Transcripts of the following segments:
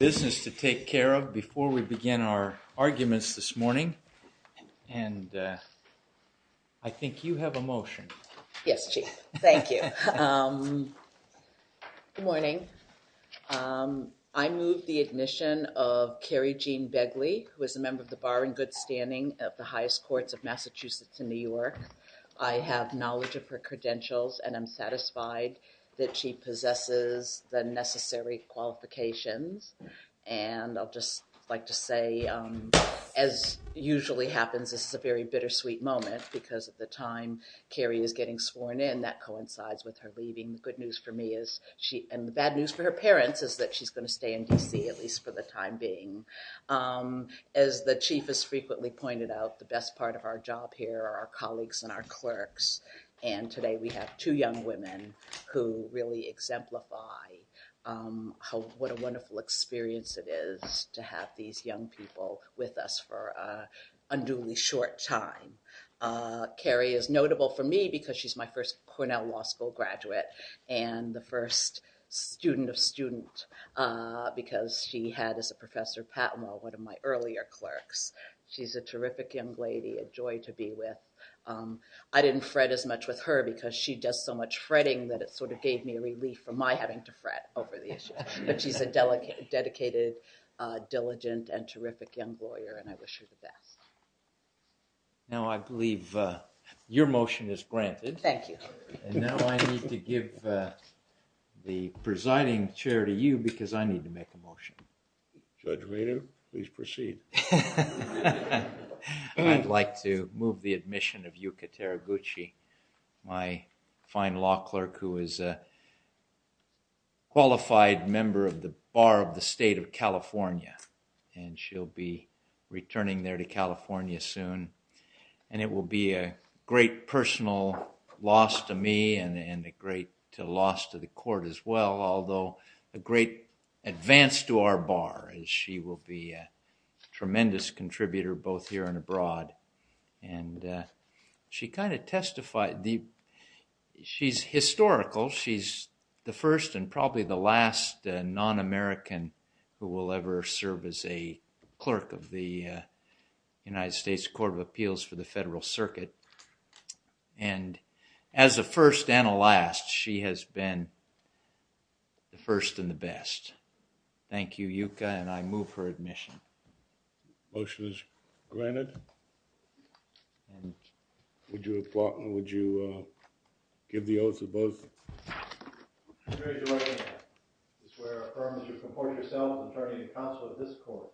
business to take care of before we begin our arguments this morning. And I think you have a motion. Yes, Chief. Thank you. Good morning. I move the admission of Kerry Jean Begley, who is a member of the bar in good standing of the highest courts of Massachusetts and New York. I have knowledge of her credentials and I'm satisfied that she possesses the necessary qualifications. And I'll just like to say, as usually happens, this is a very bittersweet moment because at the time, Kerry is getting sworn in, that coincides with her leaving. I mean, the good news for me is she and the bad news for her parents is that she's going to stay in D.C. at least for the time being. As the chief has frequently pointed out, the best part of our job here are our colleagues and our clerks. And today we have two young women who really exemplify what a wonderful experience it is to have these young people with us for a newly short time. Kerry is notable for me because she's my first Cornell Law School graduate and the first student of student because she had as a professor, one of my earlier clerks. She's a terrific young lady, a joy to be with. I didn't fret as much with her because she does so much fretting that it sort of gave me relief from my having to fret over the issue. But she's a dedicated, diligent, and terrific young lawyer and I wish her the best. Now, I believe your motion is granted. Thank you. And now I need to give the presiding chair to you because I need to make a motion. Judge Rainer, please proceed. I'd like to move the admission of Yuka Teraguchi, my fine law clerk who is a qualified member of the Bar of the State of California. And she'll be returning there to California soon. And it will be a great personal loss to me and a great loss to the court as well, although a great advance to our bar as she will be a tremendous contributor both here and abroad. And she kind of testified. She's historical. She's the first and probably the last non-American who will ever serve as a clerk of the United States Court of Appeals for the Federal Circuit. And as a first and a last, she has been the first and the best. Thank you, Yuka, and I move her admission. Motion is granted. And would you applaud and would you give the oaths of both? I swear and affirm that you comport yourself as an attorney and counsel of this court,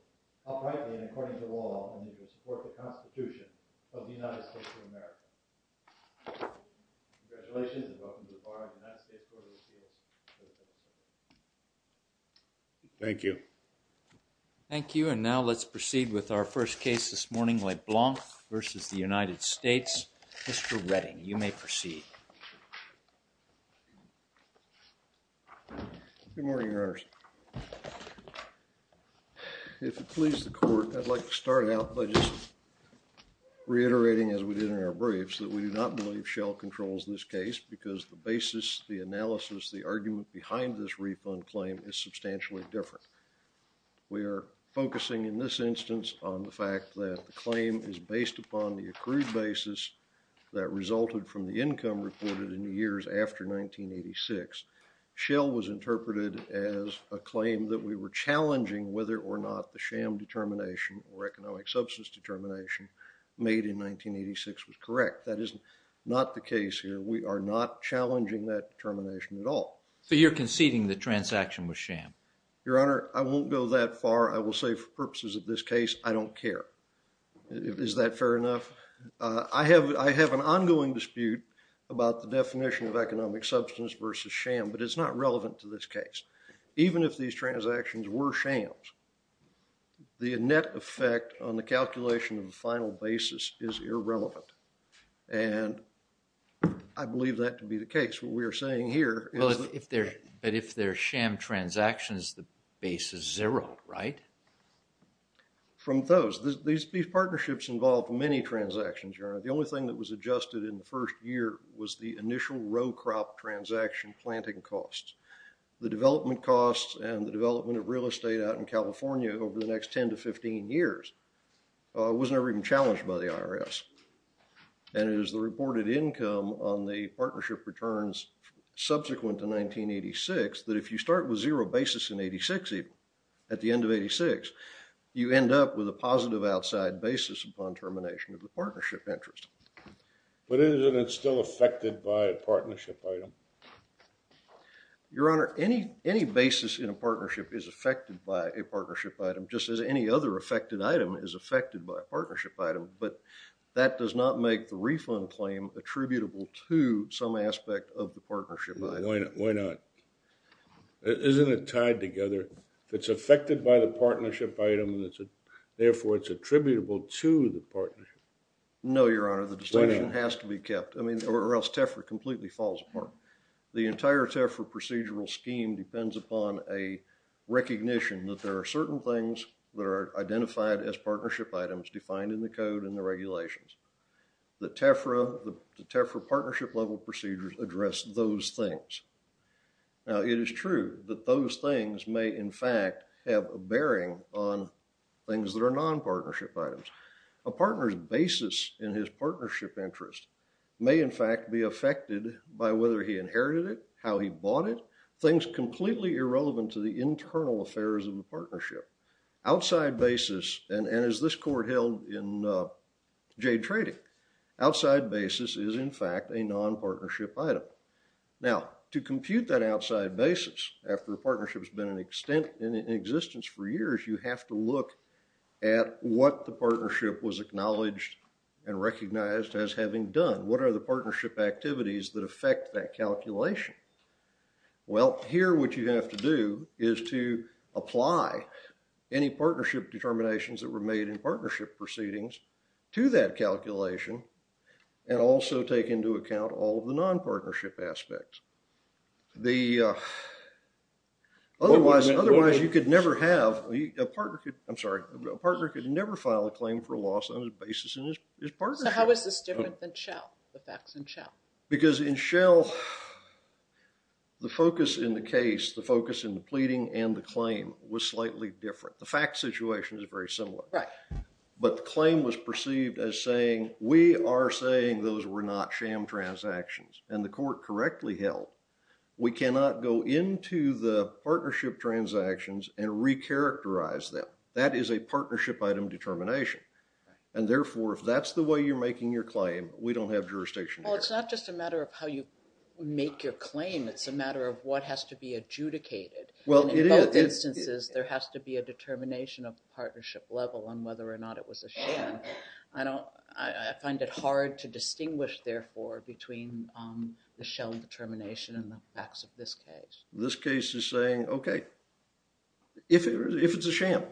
uprightly and according to law, and that you will support the Constitution of the United States of America. Congratulations and welcome to the Bar of the United States Court of Appeals. Thank you. Thank you. And now let's proceed with our first case this morning, LeBlanc versus the United States. Mr. Redding, you may proceed. Good morning, Your Honors. If it pleases the court, I'd like to start out by just reiterating as we did in our briefs that we do not believe Shell controls this case because the basis, the analysis, the argument behind this refund claim is substantially different. We are focusing in this instance on the fact that the claim is based upon the accrued basis that resulted from the income reported in the years after 1986. Shell was interpreted as a claim that we were challenging whether or not the sham determination or economic substance determination made in 1986 was correct. That is not the case here. We are not challenging that determination at all. So you're conceding the transaction was sham? Your Honor, I won't go that far. I will say for purposes of this case, I don't care. Is that fair enough? I have an ongoing dispute about the definition of economic substance versus sham, but it's not relevant to this case. Even if these transactions were shams, the net effect on the calculation of the final basis is irrelevant, and I believe that to be the case. But if they're sham transactions, the base is zero, right? From those, these partnerships involve many transactions. The only thing that was adjusted in the first year was the initial row crop transaction planting costs. The development costs and the development of real estate out in California over the next 10 to 15 years was never even challenged by the IRS. And it is the reported income on the partnership returns subsequent to 1986 that if you start with zero basis in 86 even, at the end of 86, you end up with a positive outside basis upon termination of the partnership interest. But isn't it still affected by a partnership item? Your Honor, any basis in a partnership is affected by a partnership item, just as any other affected item is affected by a partnership item. But that does not make the refund claim attributable to some aspect of the partnership item. Why not? Isn't it tied together? If it's affected by the partnership item, therefore it's attributable to the partnership. No, Your Honor, the distinction has to be kept. I mean, or else TEFRA completely falls apart. The entire TEFRA procedural scheme depends upon a recognition that there are certain things that are identified as partnership items defined in the code and the regulations. The TEFRA, the TEFRA partnership level procedures address those things. Now, it is true that those things may, in fact, have a bearing on things that are non-partnership items. A partner's basis in his partnership interest may, in fact, be affected by whether he inherited it, how he bought it, things completely irrelevant to the internal affairs of the partnership. Outside basis, and as this Court held in Jade Trading, outside basis is, in fact, a non-partnership item. Now, to compute that outside basis after the partnership has been in existence for years, you have to look at what the partnership was acknowledged and recognized as having done. What are the partnership activities that affect that calculation? Well, here what you have to do is to apply any partnership determinations that were made in partnership proceedings to that calculation and also take into account all of the non-partnership aspects. Otherwise, you could never have, I'm sorry, a partner could never file a claim for a loss on the basis of his partnership. How is this different than Shell, the facts in Shell? Because in Shell, the focus in the case, the focus in the pleading and the claim was slightly different. The fact situation is very similar. Right. But the claim was perceived as saying, we are saying those were not sham transactions. And the Court correctly held, we cannot go into the partnership transactions and recharacterize them. That is a partnership item determination. And therefore, if that's the way you're making your claim, we don't have jurisdiction. Well, it's not just a matter of how you make your claim. It's a matter of what has to be adjudicated. Well, it is. In both instances, there has to be a determination of partnership level on whether or not it was a sham. I find it hard to distinguish, therefore, between the Shell determination and the facts of this case. This case is saying, okay, if it's a sham,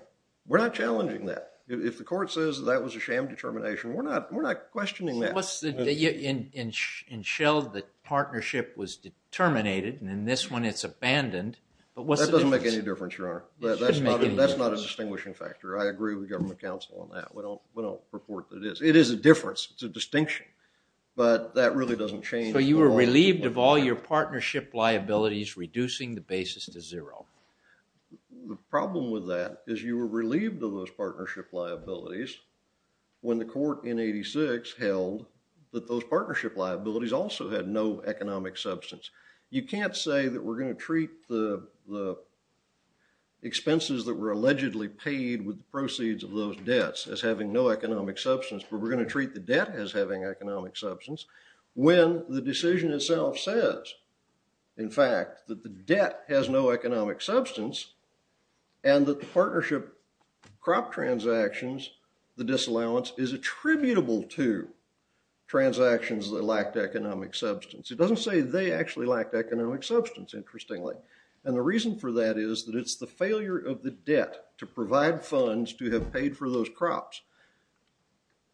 we're not challenging that. If the Court says that was a sham determination, we're not questioning that. In Shell, the partnership was determinated. And in this one, it's abandoned. That doesn't make any difference, Your Honor. That's not a distinguishing factor. I agree with Government Counsel on that. We don't purport that it is. It is a difference. It's a distinction. But that really doesn't change. So you were relieved of all your partnership liabilities, reducing the basis to zero. The problem with that is you were relieved of those partnership liabilities when the Court in 86 held that those partnership liabilities also had no economic substance. You can't say that we're going to treat the expenses that were allegedly paid with the proceeds of those debts as having no economic substance, but we're going to treat the debt as having economic substance when the decision itself says, in fact, that the debt has no economic substance and that the partnership crop transactions, the disallowance, is attributable to transactions that lacked economic substance. It doesn't say they actually lacked economic substance, interestingly. And the reason for that is that it's the failure of the debt to provide funds to have paid for those crops.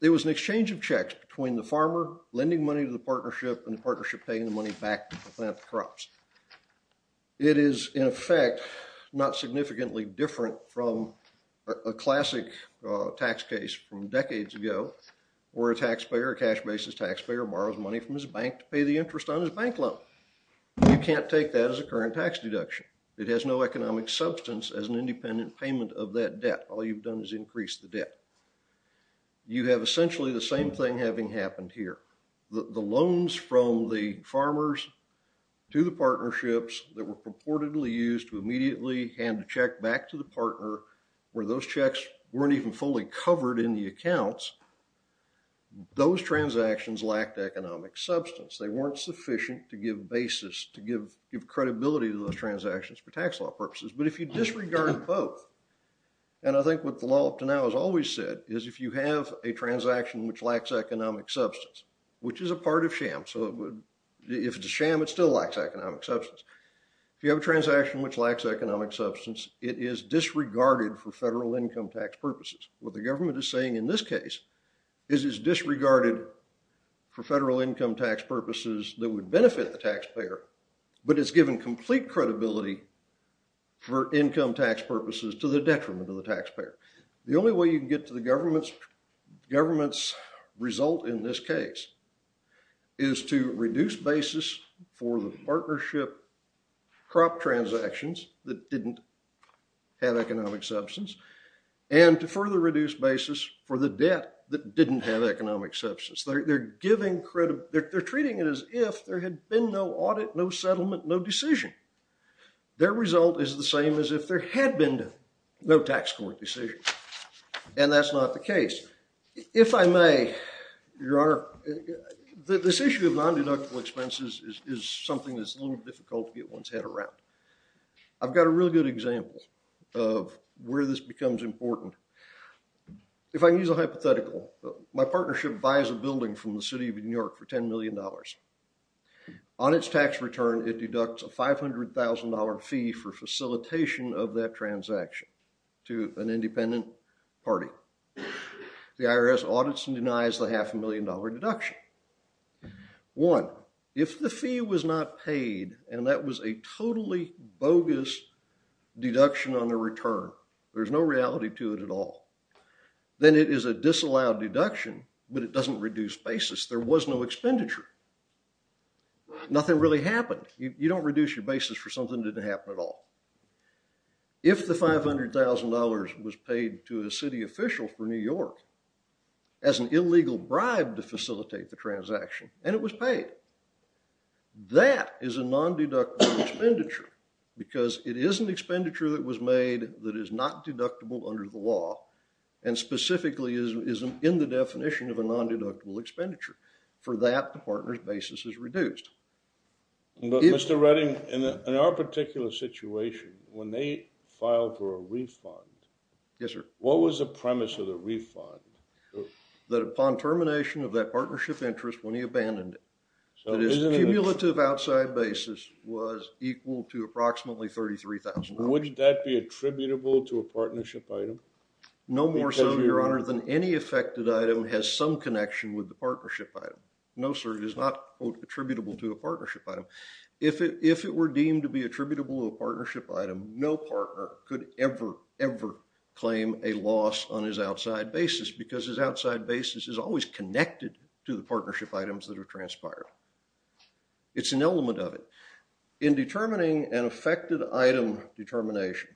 There was an exchange of checks between the farmer lending money to the partnership and the partnership paying the money back to plant the crops. It is, in effect, not significantly different from a classic tax case from decades ago where a taxpayer, a cash basis taxpayer, borrows money from his bank to pay the interest on his bank loan. You can't take that as a current tax deduction. It has no economic substance as an independent payment of that debt. All you've done is increase the debt. You have essentially the same thing having happened here. The loans from the farmers to the partnerships that were purportedly used to immediately hand a check back to the partner where those checks weren't even fully covered in the accounts, those transactions lacked economic substance. They weren't sufficient to give basis, to give credibility to those transactions for tax law purposes. But if you disregard both, and I think what the law up to now has always said, is if you have a transaction which lacks economic substance, which is a part of sham, so if it's a sham, it still lacks economic substance. If you have a transaction which lacks economic substance, it is disregarded for federal income tax purposes. What the government is saying in this case is it's disregarded for federal income tax purposes that would benefit the taxpayer, but it's given complete credibility for income tax purposes to the detriment of the taxpayer. The only way you can get to the government's result in this case is to reduce basis for the partnership crop transactions that didn't have economic substance, and to further reduce basis for the debt that didn't have economic substance. They're treating it as if there had been no audit, no settlement, no decision. Their result is the same as if there had been no tax court decision, and that's not the case. If I may, Your Honor, this issue of non-deductible expenses is something that's a little difficult to get one's head around. I've got a really good example of where this becomes important. If I use a hypothetical, my partnership buys a building from the city of New York for $10 million. On its tax return, it deducts a $500,000 fee for facilitation of that transaction to an independent party. The IRS audits and denies the half a million dollar deduction. One, if the fee was not paid, and that was a totally bogus deduction on the return, there's no reality to it at all, then it is a disallowed deduction, but it doesn't reduce basis. There was no expenditure. Nothing really happened. You don't reduce your basis for something that didn't happen at all. If the $500,000 was paid to a city official for New York as an illegal bribe to facilitate the transaction, and it was paid, that is a non-deductible expenditure because it is an expenditure that was made that is not deductible under the law and specifically is in the definition of a non-deductible expenditure. For that, the partner's basis is reduced. Mr. Redding, in our particular situation, when they filed for a refund, what was the premise of the refund? That upon termination of that partnership interest, when he abandoned it, that his cumulative outside basis was equal to approximately $33,000. Would that be attributable to a partnership item? No more so, Your Honor, than any affected item has some connection with the partnership item. No, sir, it is not attributable to a partnership item. If it were deemed to be attributable to a partnership item, no partner could ever, ever claim a loss on his outside basis because his outside basis is always connected to the partnership items that are transpired. It's an element of it. In determining an affected item determination,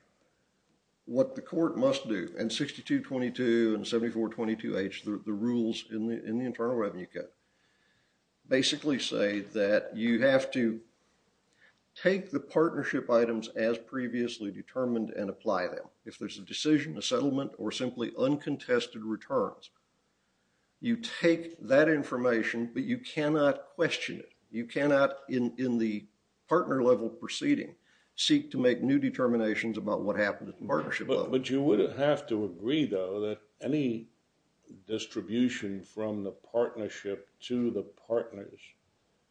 what the court must do in 6222 and 7422H, the rules in the Internal Revenue Code, basically say that you have to take the partnership items as previously determined and apply them. If there's a decision, a settlement, or simply uncontested returns, you take that information, but you cannot question it. You cannot, in the partner-level proceeding, seek to make new determinations about what happened at the partnership level. But you would have to agree, though, that any distribution from the partnership to the partners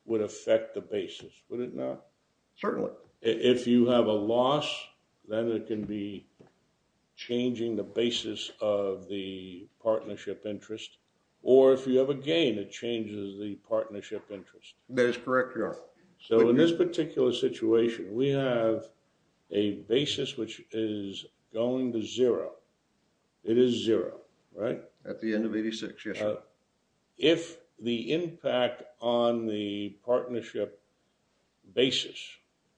would affect the basis, would it not? Certainly. If you have a loss, then it can be changing the basis of the partnership interest, or if you have a gain, it changes the partnership interest. That is correct, Your Honor. So in this particular situation, we have a basis which is going to zero. It is zero, right? At the end of 86, yes, Your Honor. If the impact on the partnership basis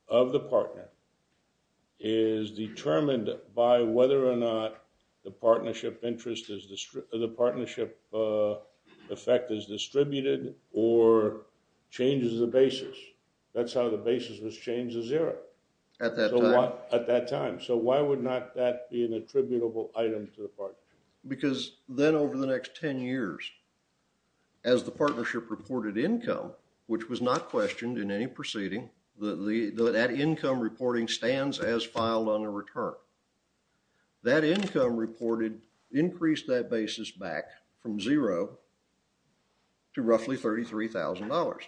of the partner is determined by whether or not the partnership interest, the partnership effect is distributed or changes the basis, that's how the basis was changed to zero. At that time. At that time. Because then over the next 10 years, as the partnership reported income, which was not questioned in any proceeding, that income reporting stands as filed on a return. That income reported increased that basis back from zero to roughly $33,000.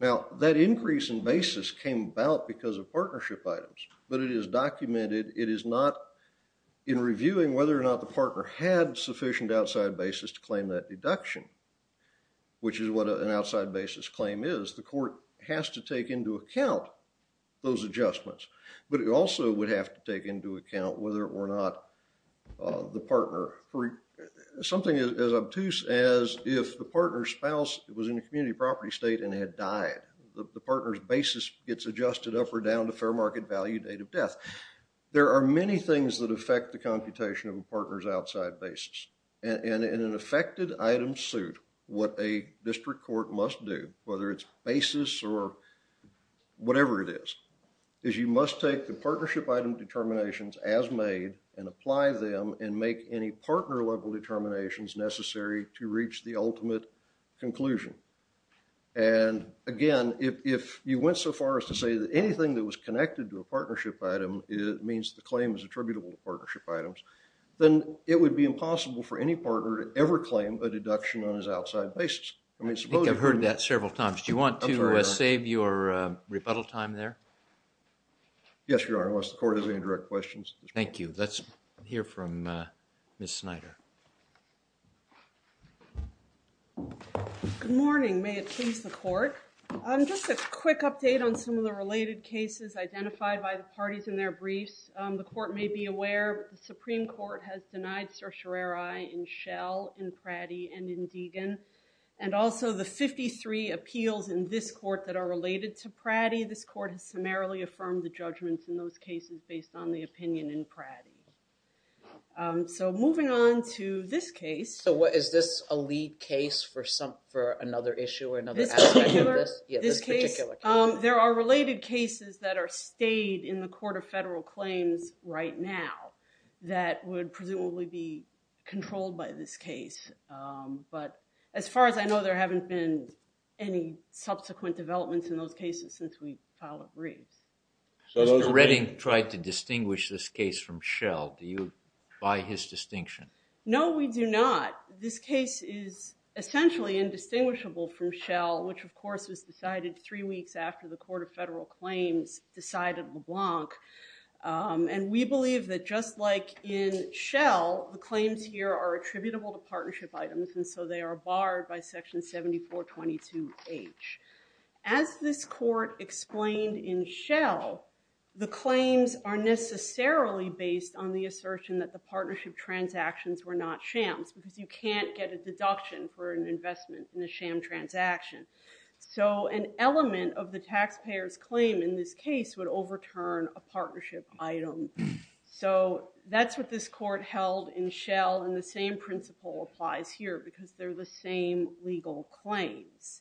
Now, that increase in basis came about because of partnership items, but it is documented. It is not in reviewing whether or not the partner had sufficient outside basis to claim that deduction, which is what an outside basis claim is. The court has to take into account those adjustments, but it also would have to take into account whether or not the partner for something as obtuse as if the partner's spouse was in a community property state and had died. The partner's basis gets adjusted up or down to fair market value There are many things that affect the computation of a partner's outside basis. And in an affected item suit, what a district court must do, whether it's basis or whatever it is, is you must take the partnership item determinations as made and apply them and make any partner level determinations necessary to reach the ultimate conclusion. And again, if you went so far as to say that anything that was connected to a partnership item, it means the claim is attributable to partnership items, then it would be impossible for any partner to ever claim a deduction on his outside basis. I think I've heard that several times. Do you want to save your rebuttal time there? Yes, Your Honor, unless the court has any direct questions. Thank you. Let's hear from Ms. Snyder. Good morning. May it please the court. Just a quick update on some of the related cases identified by the parties in their briefs. The court may be aware the Supreme Court has denied certiorari in Shell, in Pratty, and in Deegan. And also the 53 appeals in this court that are related to Pratty, this court has summarily affirmed the judgments in those cases based on the opinion in Pratty. So moving on to this case. So is this a lead case for another issue or another aspect? This particular case, there are related cases that are stayed in the court of federal claims right now that would presumably be controlled by this case. But as far as I know, there haven't been any subsequent developments in those cases since we filed the briefs. So Mr. Redding tried to distinguish this case from Shell. Do you buy his distinction? No, we do not. This case is essentially indistinguishable from Shell, which of course was decided three weeks after the court of federal claims decided LeBlanc. And we believe that just like in Shell, the claims here are attributable to partnership items. And so they are barred by section 7422H. As this court explained in Shell, the claims are necessarily based on the assertion that the partnership transactions were not shams because you can't get a deduction for an investment in a sham transaction. So an element of the taxpayer's claim in this case would overturn a partnership item. So that's what this court held in Shell. And the same principle applies here because they're the same legal claims.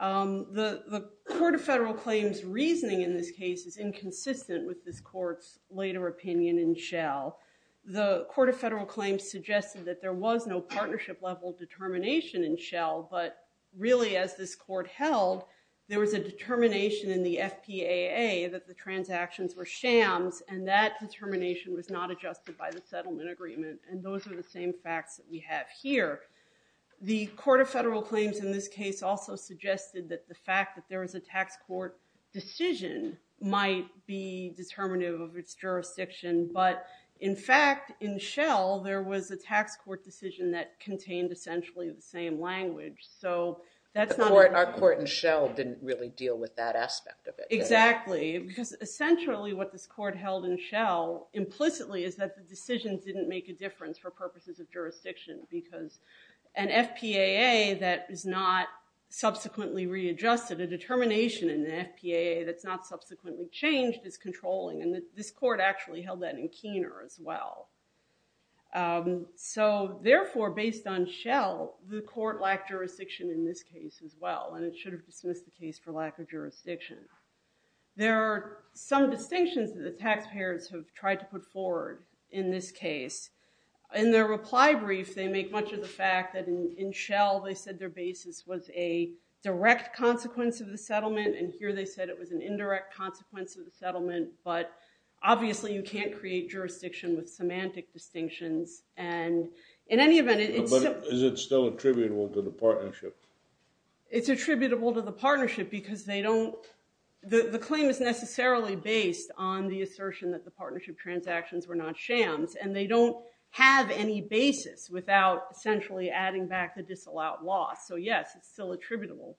The court of federal claims reasoning in this case is inconsistent with this court's later opinion in Shell. The court of federal claims suggested that there was no partnership level determination in Shell, but really as this court held, there was a determination in the FPAA that the transactions were shams. And that determination was not adjusted by the settlement agreement. And those are the same facts that we have here. The court of federal claims in this case also suggested that the fact that there was a tax court decision might be determinative of its jurisdiction. But in fact, in Shell, there was a tax court decision that contained essentially the same language. Our court in Shell didn't really deal with that aspect of it. Exactly. Because essentially what this court held in Shell implicitly is that the decisions didn't make a difference for purposes of jurisdiction because an FPAA that is not subsequently readjusted, a determination in the FPAA that's not subsequently changed is controlling. And this court actually held that in Keener as well. So therefore, based on Shell, the court lacked jurisdiction in this case as well. And it should have dismissed the case for lack of jurisdiction. There are some distinctions that the taxpayers have tried to put forward in this case. In their reply brief, they make much of the fact that in Shell they said their basis was a direct consequence of the settlement. And here they said it was an indirect consequence of the settlement. But obviously you can't create jurisdiction with semantic distinctions. And in any event... But is it still attributable to the partnership? It's attributable to the partnership because they don't... The claim is necessarily based on the assertion that the partnership transactions were not shams. And they don't have any basis without essentially adding back the disallowed So yes, it's still attributable.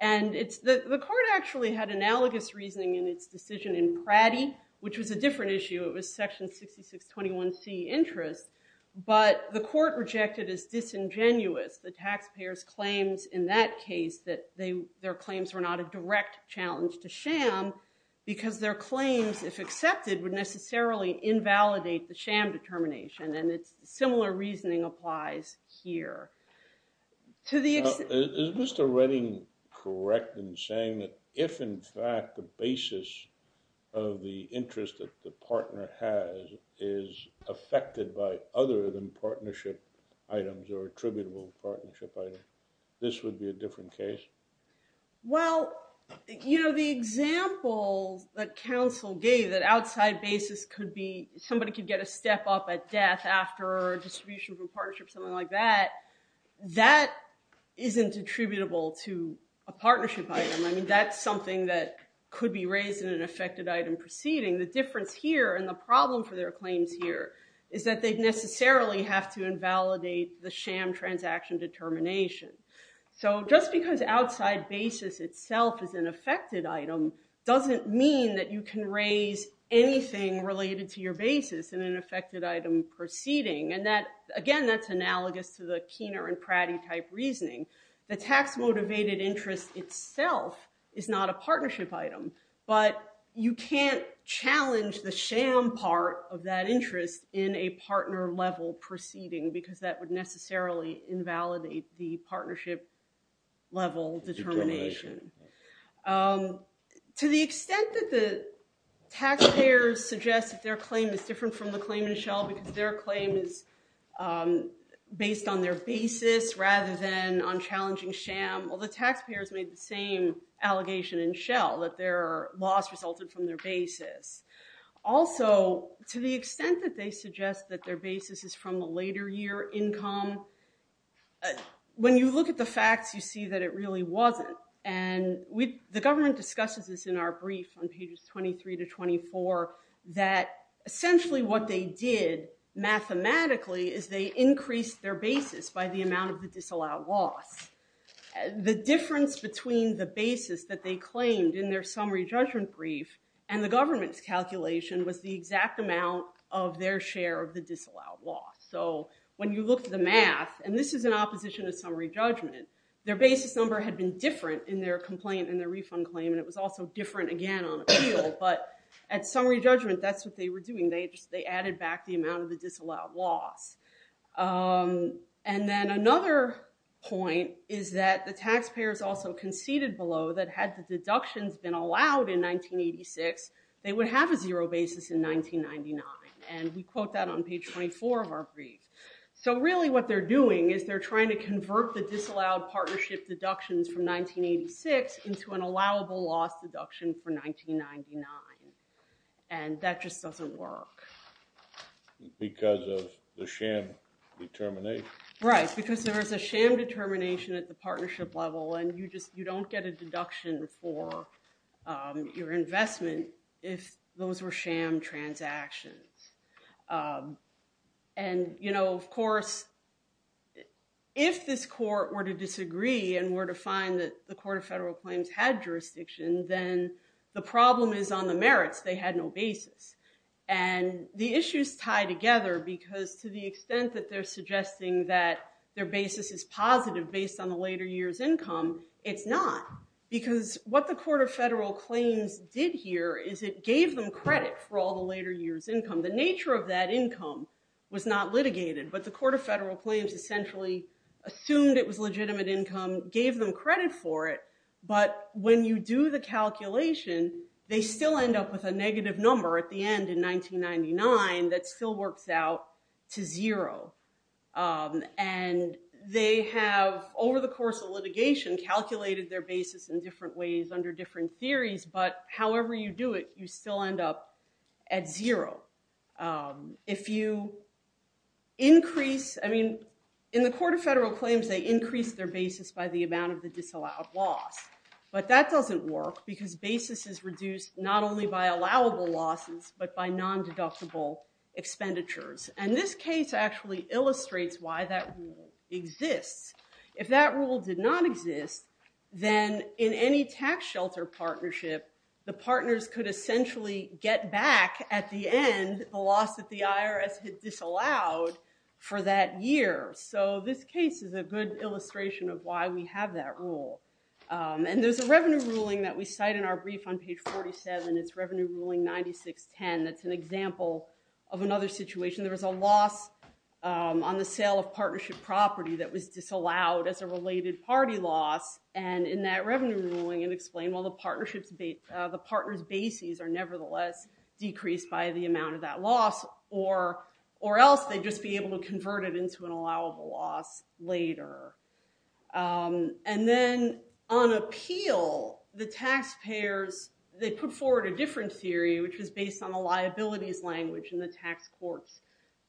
And the court actually had analogous reasoning in its decision in Pratty, which was a different issue. It was section 6621C interest. But the court rejected as disingenuous the taxpayers' claims in that case that their claims were not a direct challenge to sham because their claims, if accepted, would necessarily invalidate the sham determination. And similar reasoning applies here. To the extent... Is Mr. Redding correct in saying that if, in fact, the basis of the interest that the partner has is affected by other than partnership items or attributable partnership items, this would be a different case? Well, you know, the example that counsel gave that outside basis could be... Somebody could get a step up at death after distribution from partnership, something like that, that isn't attributable to a partnership item. I mean, that's something that could be raised in an affected item proceeding. The difference here and the problem for their claims here is that they necessarily have to invalidate the sham transaction determination. So just because outside basis itself is an affected item doesn't mean that you can raise anything related to your basis in an affected item proceeding. And again, that's analogous to the Keener and Pratty type reasoning. The tax motivated interest itself is not a partnership item, but you can't challenge the sham part of that interest in a partner level proceeding because that would necessarily invalidate the partnership level determination. To the extent that the taxpayers suggest that their claim is different from the claim in Shell because their claim is based on their basis rather than on challenging sham. Well, the taxpayers made the same allegation in Shell that their loss resulted from their basis. Also, to the extent that they suggest that their basis is from a later year income, when you look at the facts, you see that it really wasn't. And the government discusses this in our brief on pages 23 to 24, that essentially what they did mathematically is they increased their basis by the amount of the disallowed loss. The difference between the basis that they claimed in their summary judgment brief and the government's calculation was the exact amount of their share of the disallowed loss. So when you look at the math, and this is an opposition to summary judgment, their basis number had been different in their complaint and their refund claim. And it was also different again on appeal. But at summary judgment, that's what they were doing. They just, they added back the amount of the disallowed loss. And then another point is that the taxpayers also conceded below that had the deductions been allowed in 1986, they would have a zero basis in 1999. And we quote that on page 24 of our brief. So really what they're doing is they're trying to convert the disallowed partnership deductions from 1986 into an allowable loss deduction for 1999. And that just doesn't work. Because of the sham determination? Right. Because there is a sham determination at the partnership level, and you just, you don't get a deduction for your investment if those were sham transactions. And, you know, of course, if this court were to disagree and were to find that the court of federal claims had jurisdiction, then the problem is on the merits. They had no basis. And the issues tie together because to the extent that they're suggesting that their basis is positive based on the later years income, it's not. Because what the court of federal claims did here is it gave them credit for all the later years income. The nature of that income was not litigated, but the court of federal claims essentially assumed it was legitimate income, gave them credit for it. But when you do the calculation, they still end up with a negative number at the end in 1999. That still works out to zero. And they have over the course of litigation, calculated their basis in different ways under different theories. But however you do it, you still end up at zero. If you increase, I mean, in the court of federal claims, they increase their basis by the amount of the disallowed loss. But that doesn't work because basis is reduced not only by allowable losses, but by non-deductible expenditures. And this case actually illustrates why that rule exists. If that rule did not exist, then in any tax shelter partnership, the partners could essentially get back at the end the loss that the IRS had disallowed for that year. So this case is a good illustration of why we have that rule. And there's a revenue ruling that we cite in our brief on page 47. It's revenue ruling 9610. That's an example of another situation. There was a loss on the sale of partnership property that was disallowed as a related party loss. And in that revenue ruling, it explained while the partners bases are nevertheless decreased by the amount of that loss, or else they'd just be able to convert it into an allowable loss later. And then on appeal, the taxpayers, they put forward a different theory, which was based on the liabilities language in the tax court's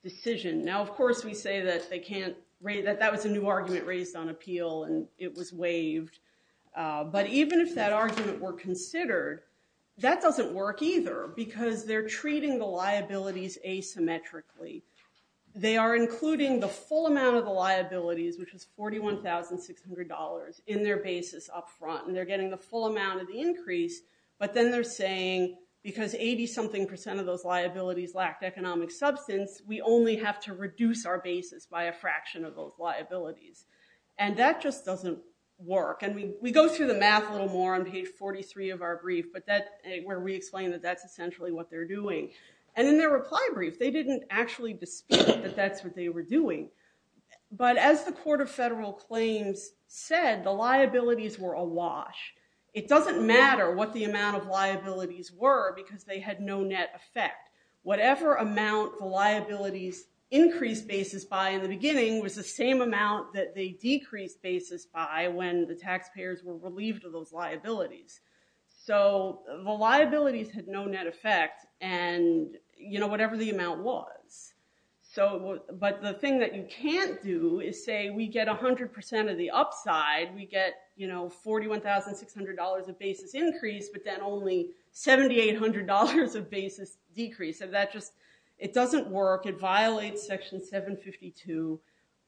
decision. of course we say that they can't, that was a new argument raised on appeal and it was waived. But even if that argument were considered, that doesn't work either because they're treating the liabilities asymmetrically. They are including the full amount of the liabilities, which is $41,600 in their basis up front. And they're getting the full amount of the increase, but then they're saying because 80 something percent of those liabilities lacked economic substance, we only have to reduce our basis by a fraction of those liabilities. And that just doesn't work. And we go through the math a little more on page 43 of our brief, but that's where we explain that that's essentially what they're doing. And in their reply brief, they didn't actually dispute that that's what they were doing. But as the court of federal claims said, the liabilities were awash. It doesn't matter what the amount of liabilities were because they had no net effect. Whatever amount the liabilities increased basis by in the beginning was the same amount that they decreased basis by when the taxpayers were relieved of those liabilities. So the liabilities had no net effect and whatever the amount was. But the thing that you can't do is say we get 100% of the upside. We get $41,600 of basis increase, but then only $7,800 of basis decrease. It doesn't work. It violates section 752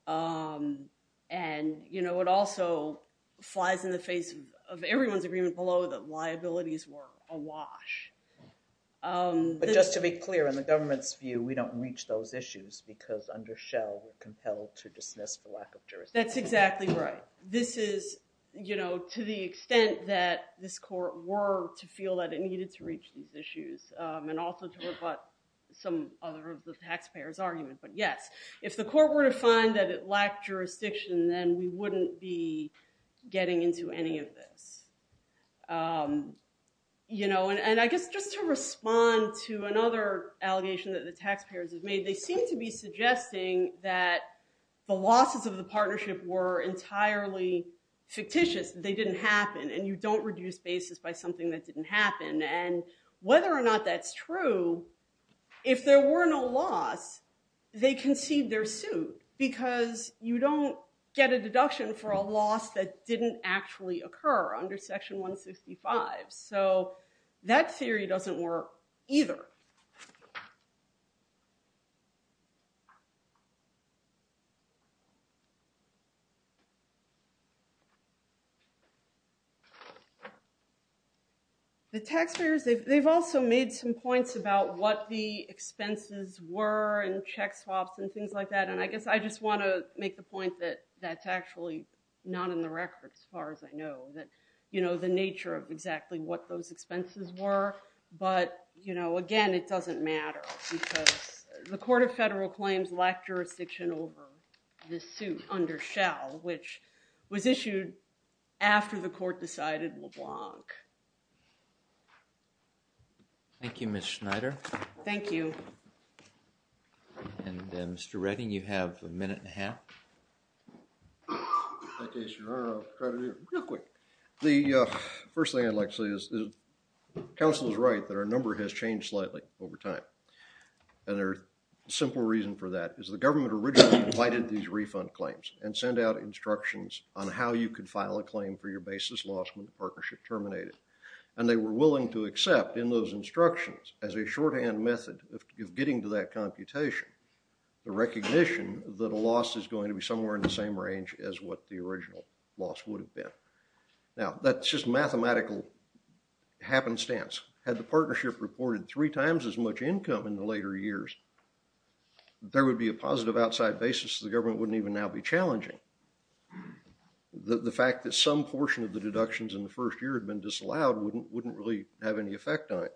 and it also flies in the face of everyone's agreement below that liabilities were awash. But just to be clear, in the government's view, we don't reach those issues because under Shell, we're compelled to dismiss for lack of jurisdiction. That's exactly right. This is to the extent that this court were to feel that it needed to reach these issues and also to rebut some other of the taxpayers' argument. But yes, if the court were to find that it lacked jurisdiction, then we wouldn't be getting into any of this. And I guess just to respond to another allegation that the taxpayers have made, they seem to be suggesting that the losses of the partnership were entirely fictitious. They didn't happen and you don't reduce basis by something that didn't happen. And whether or not that's true, if there were no loss, they concede their suit because you don't get a deduction for a loss that didn't actually occur under section 165. So that theory doesn't work either. The taxpayers, they've also made some points about what the expenses were and check swaps and things like that. And I guess I just want to make the point that that's actually not in the what those expenses were. But again, it doesn't matter because the court of federal claims lacked jurisdiction over this suit under Shell, which was issued after the court decided LeBlanc. Thank you, Ms. Schneider. Thank you. In that case, Your Honor, I'll try to do it real quick. The first thing I'd like to say is that counsel is right that our number has changed slightly over time. And the simple reason for that is the government originally provided these refund claims and sent out instructions on how you could file a claim for your basis loss when the partnership terminated. And they were willing to accept in those instructions as a shorthand method of getting to that computation the recognition that a loss is going to be somewhere in the same range as what the original loss would have been. Now, that's just mathematical happenstance. Had the partnership reported three times as much income in the later years, there would be a positive outside basis. The government wouldn't even now be challenging. The fact that some portion of the deductions in the first year had been disallowed wouldn't really have any effect on it.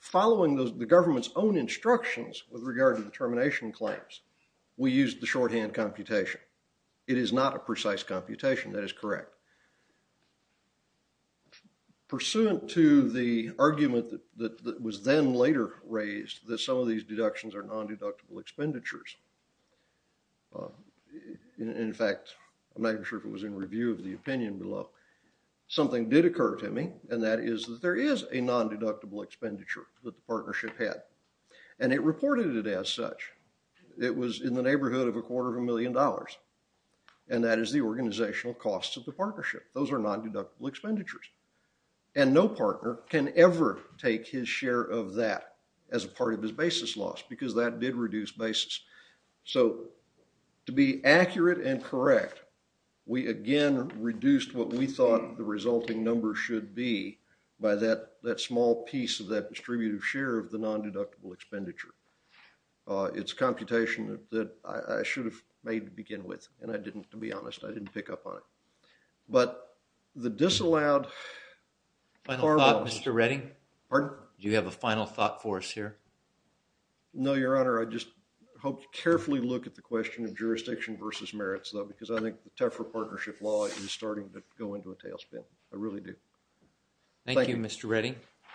Following the government's own instructions with regard to the computation. It is not a precise computation. That is correct. Pursuant to the argument that was then later raised that some of these deductions are non-deductible expenditures. In fact, I'm not even sure if it was in review of the opinion below. Something did occur to me and that is that there is a non-deductible expenditure that the partnership had. And it reported it as such. It was in the neighborhood of a quarter of a million dollars. And that is the organizational cost of the partnership. Those are non-deductible expenditures. And no partner can ever take his share of that as a part of his basis loss because that did reduce basis. So, to be accurate and correct, we again reduced what we thought the resulting number should be by that small piece of that distributive share of the non-deductible expenditure. It's computation that I should have made to begin with and I didn't, to be honest, I didn't pick up on it. But the disallowed... Final thought, Mr. Redding? Pardon? Do you have a final thought for us here? No, Your Honor. I just hope you carefully look at the question of jurisdiction versus merits though because I think the Tefra partnership law is starting to go into a tailspin. I really do. Thank you, Mr. Redding.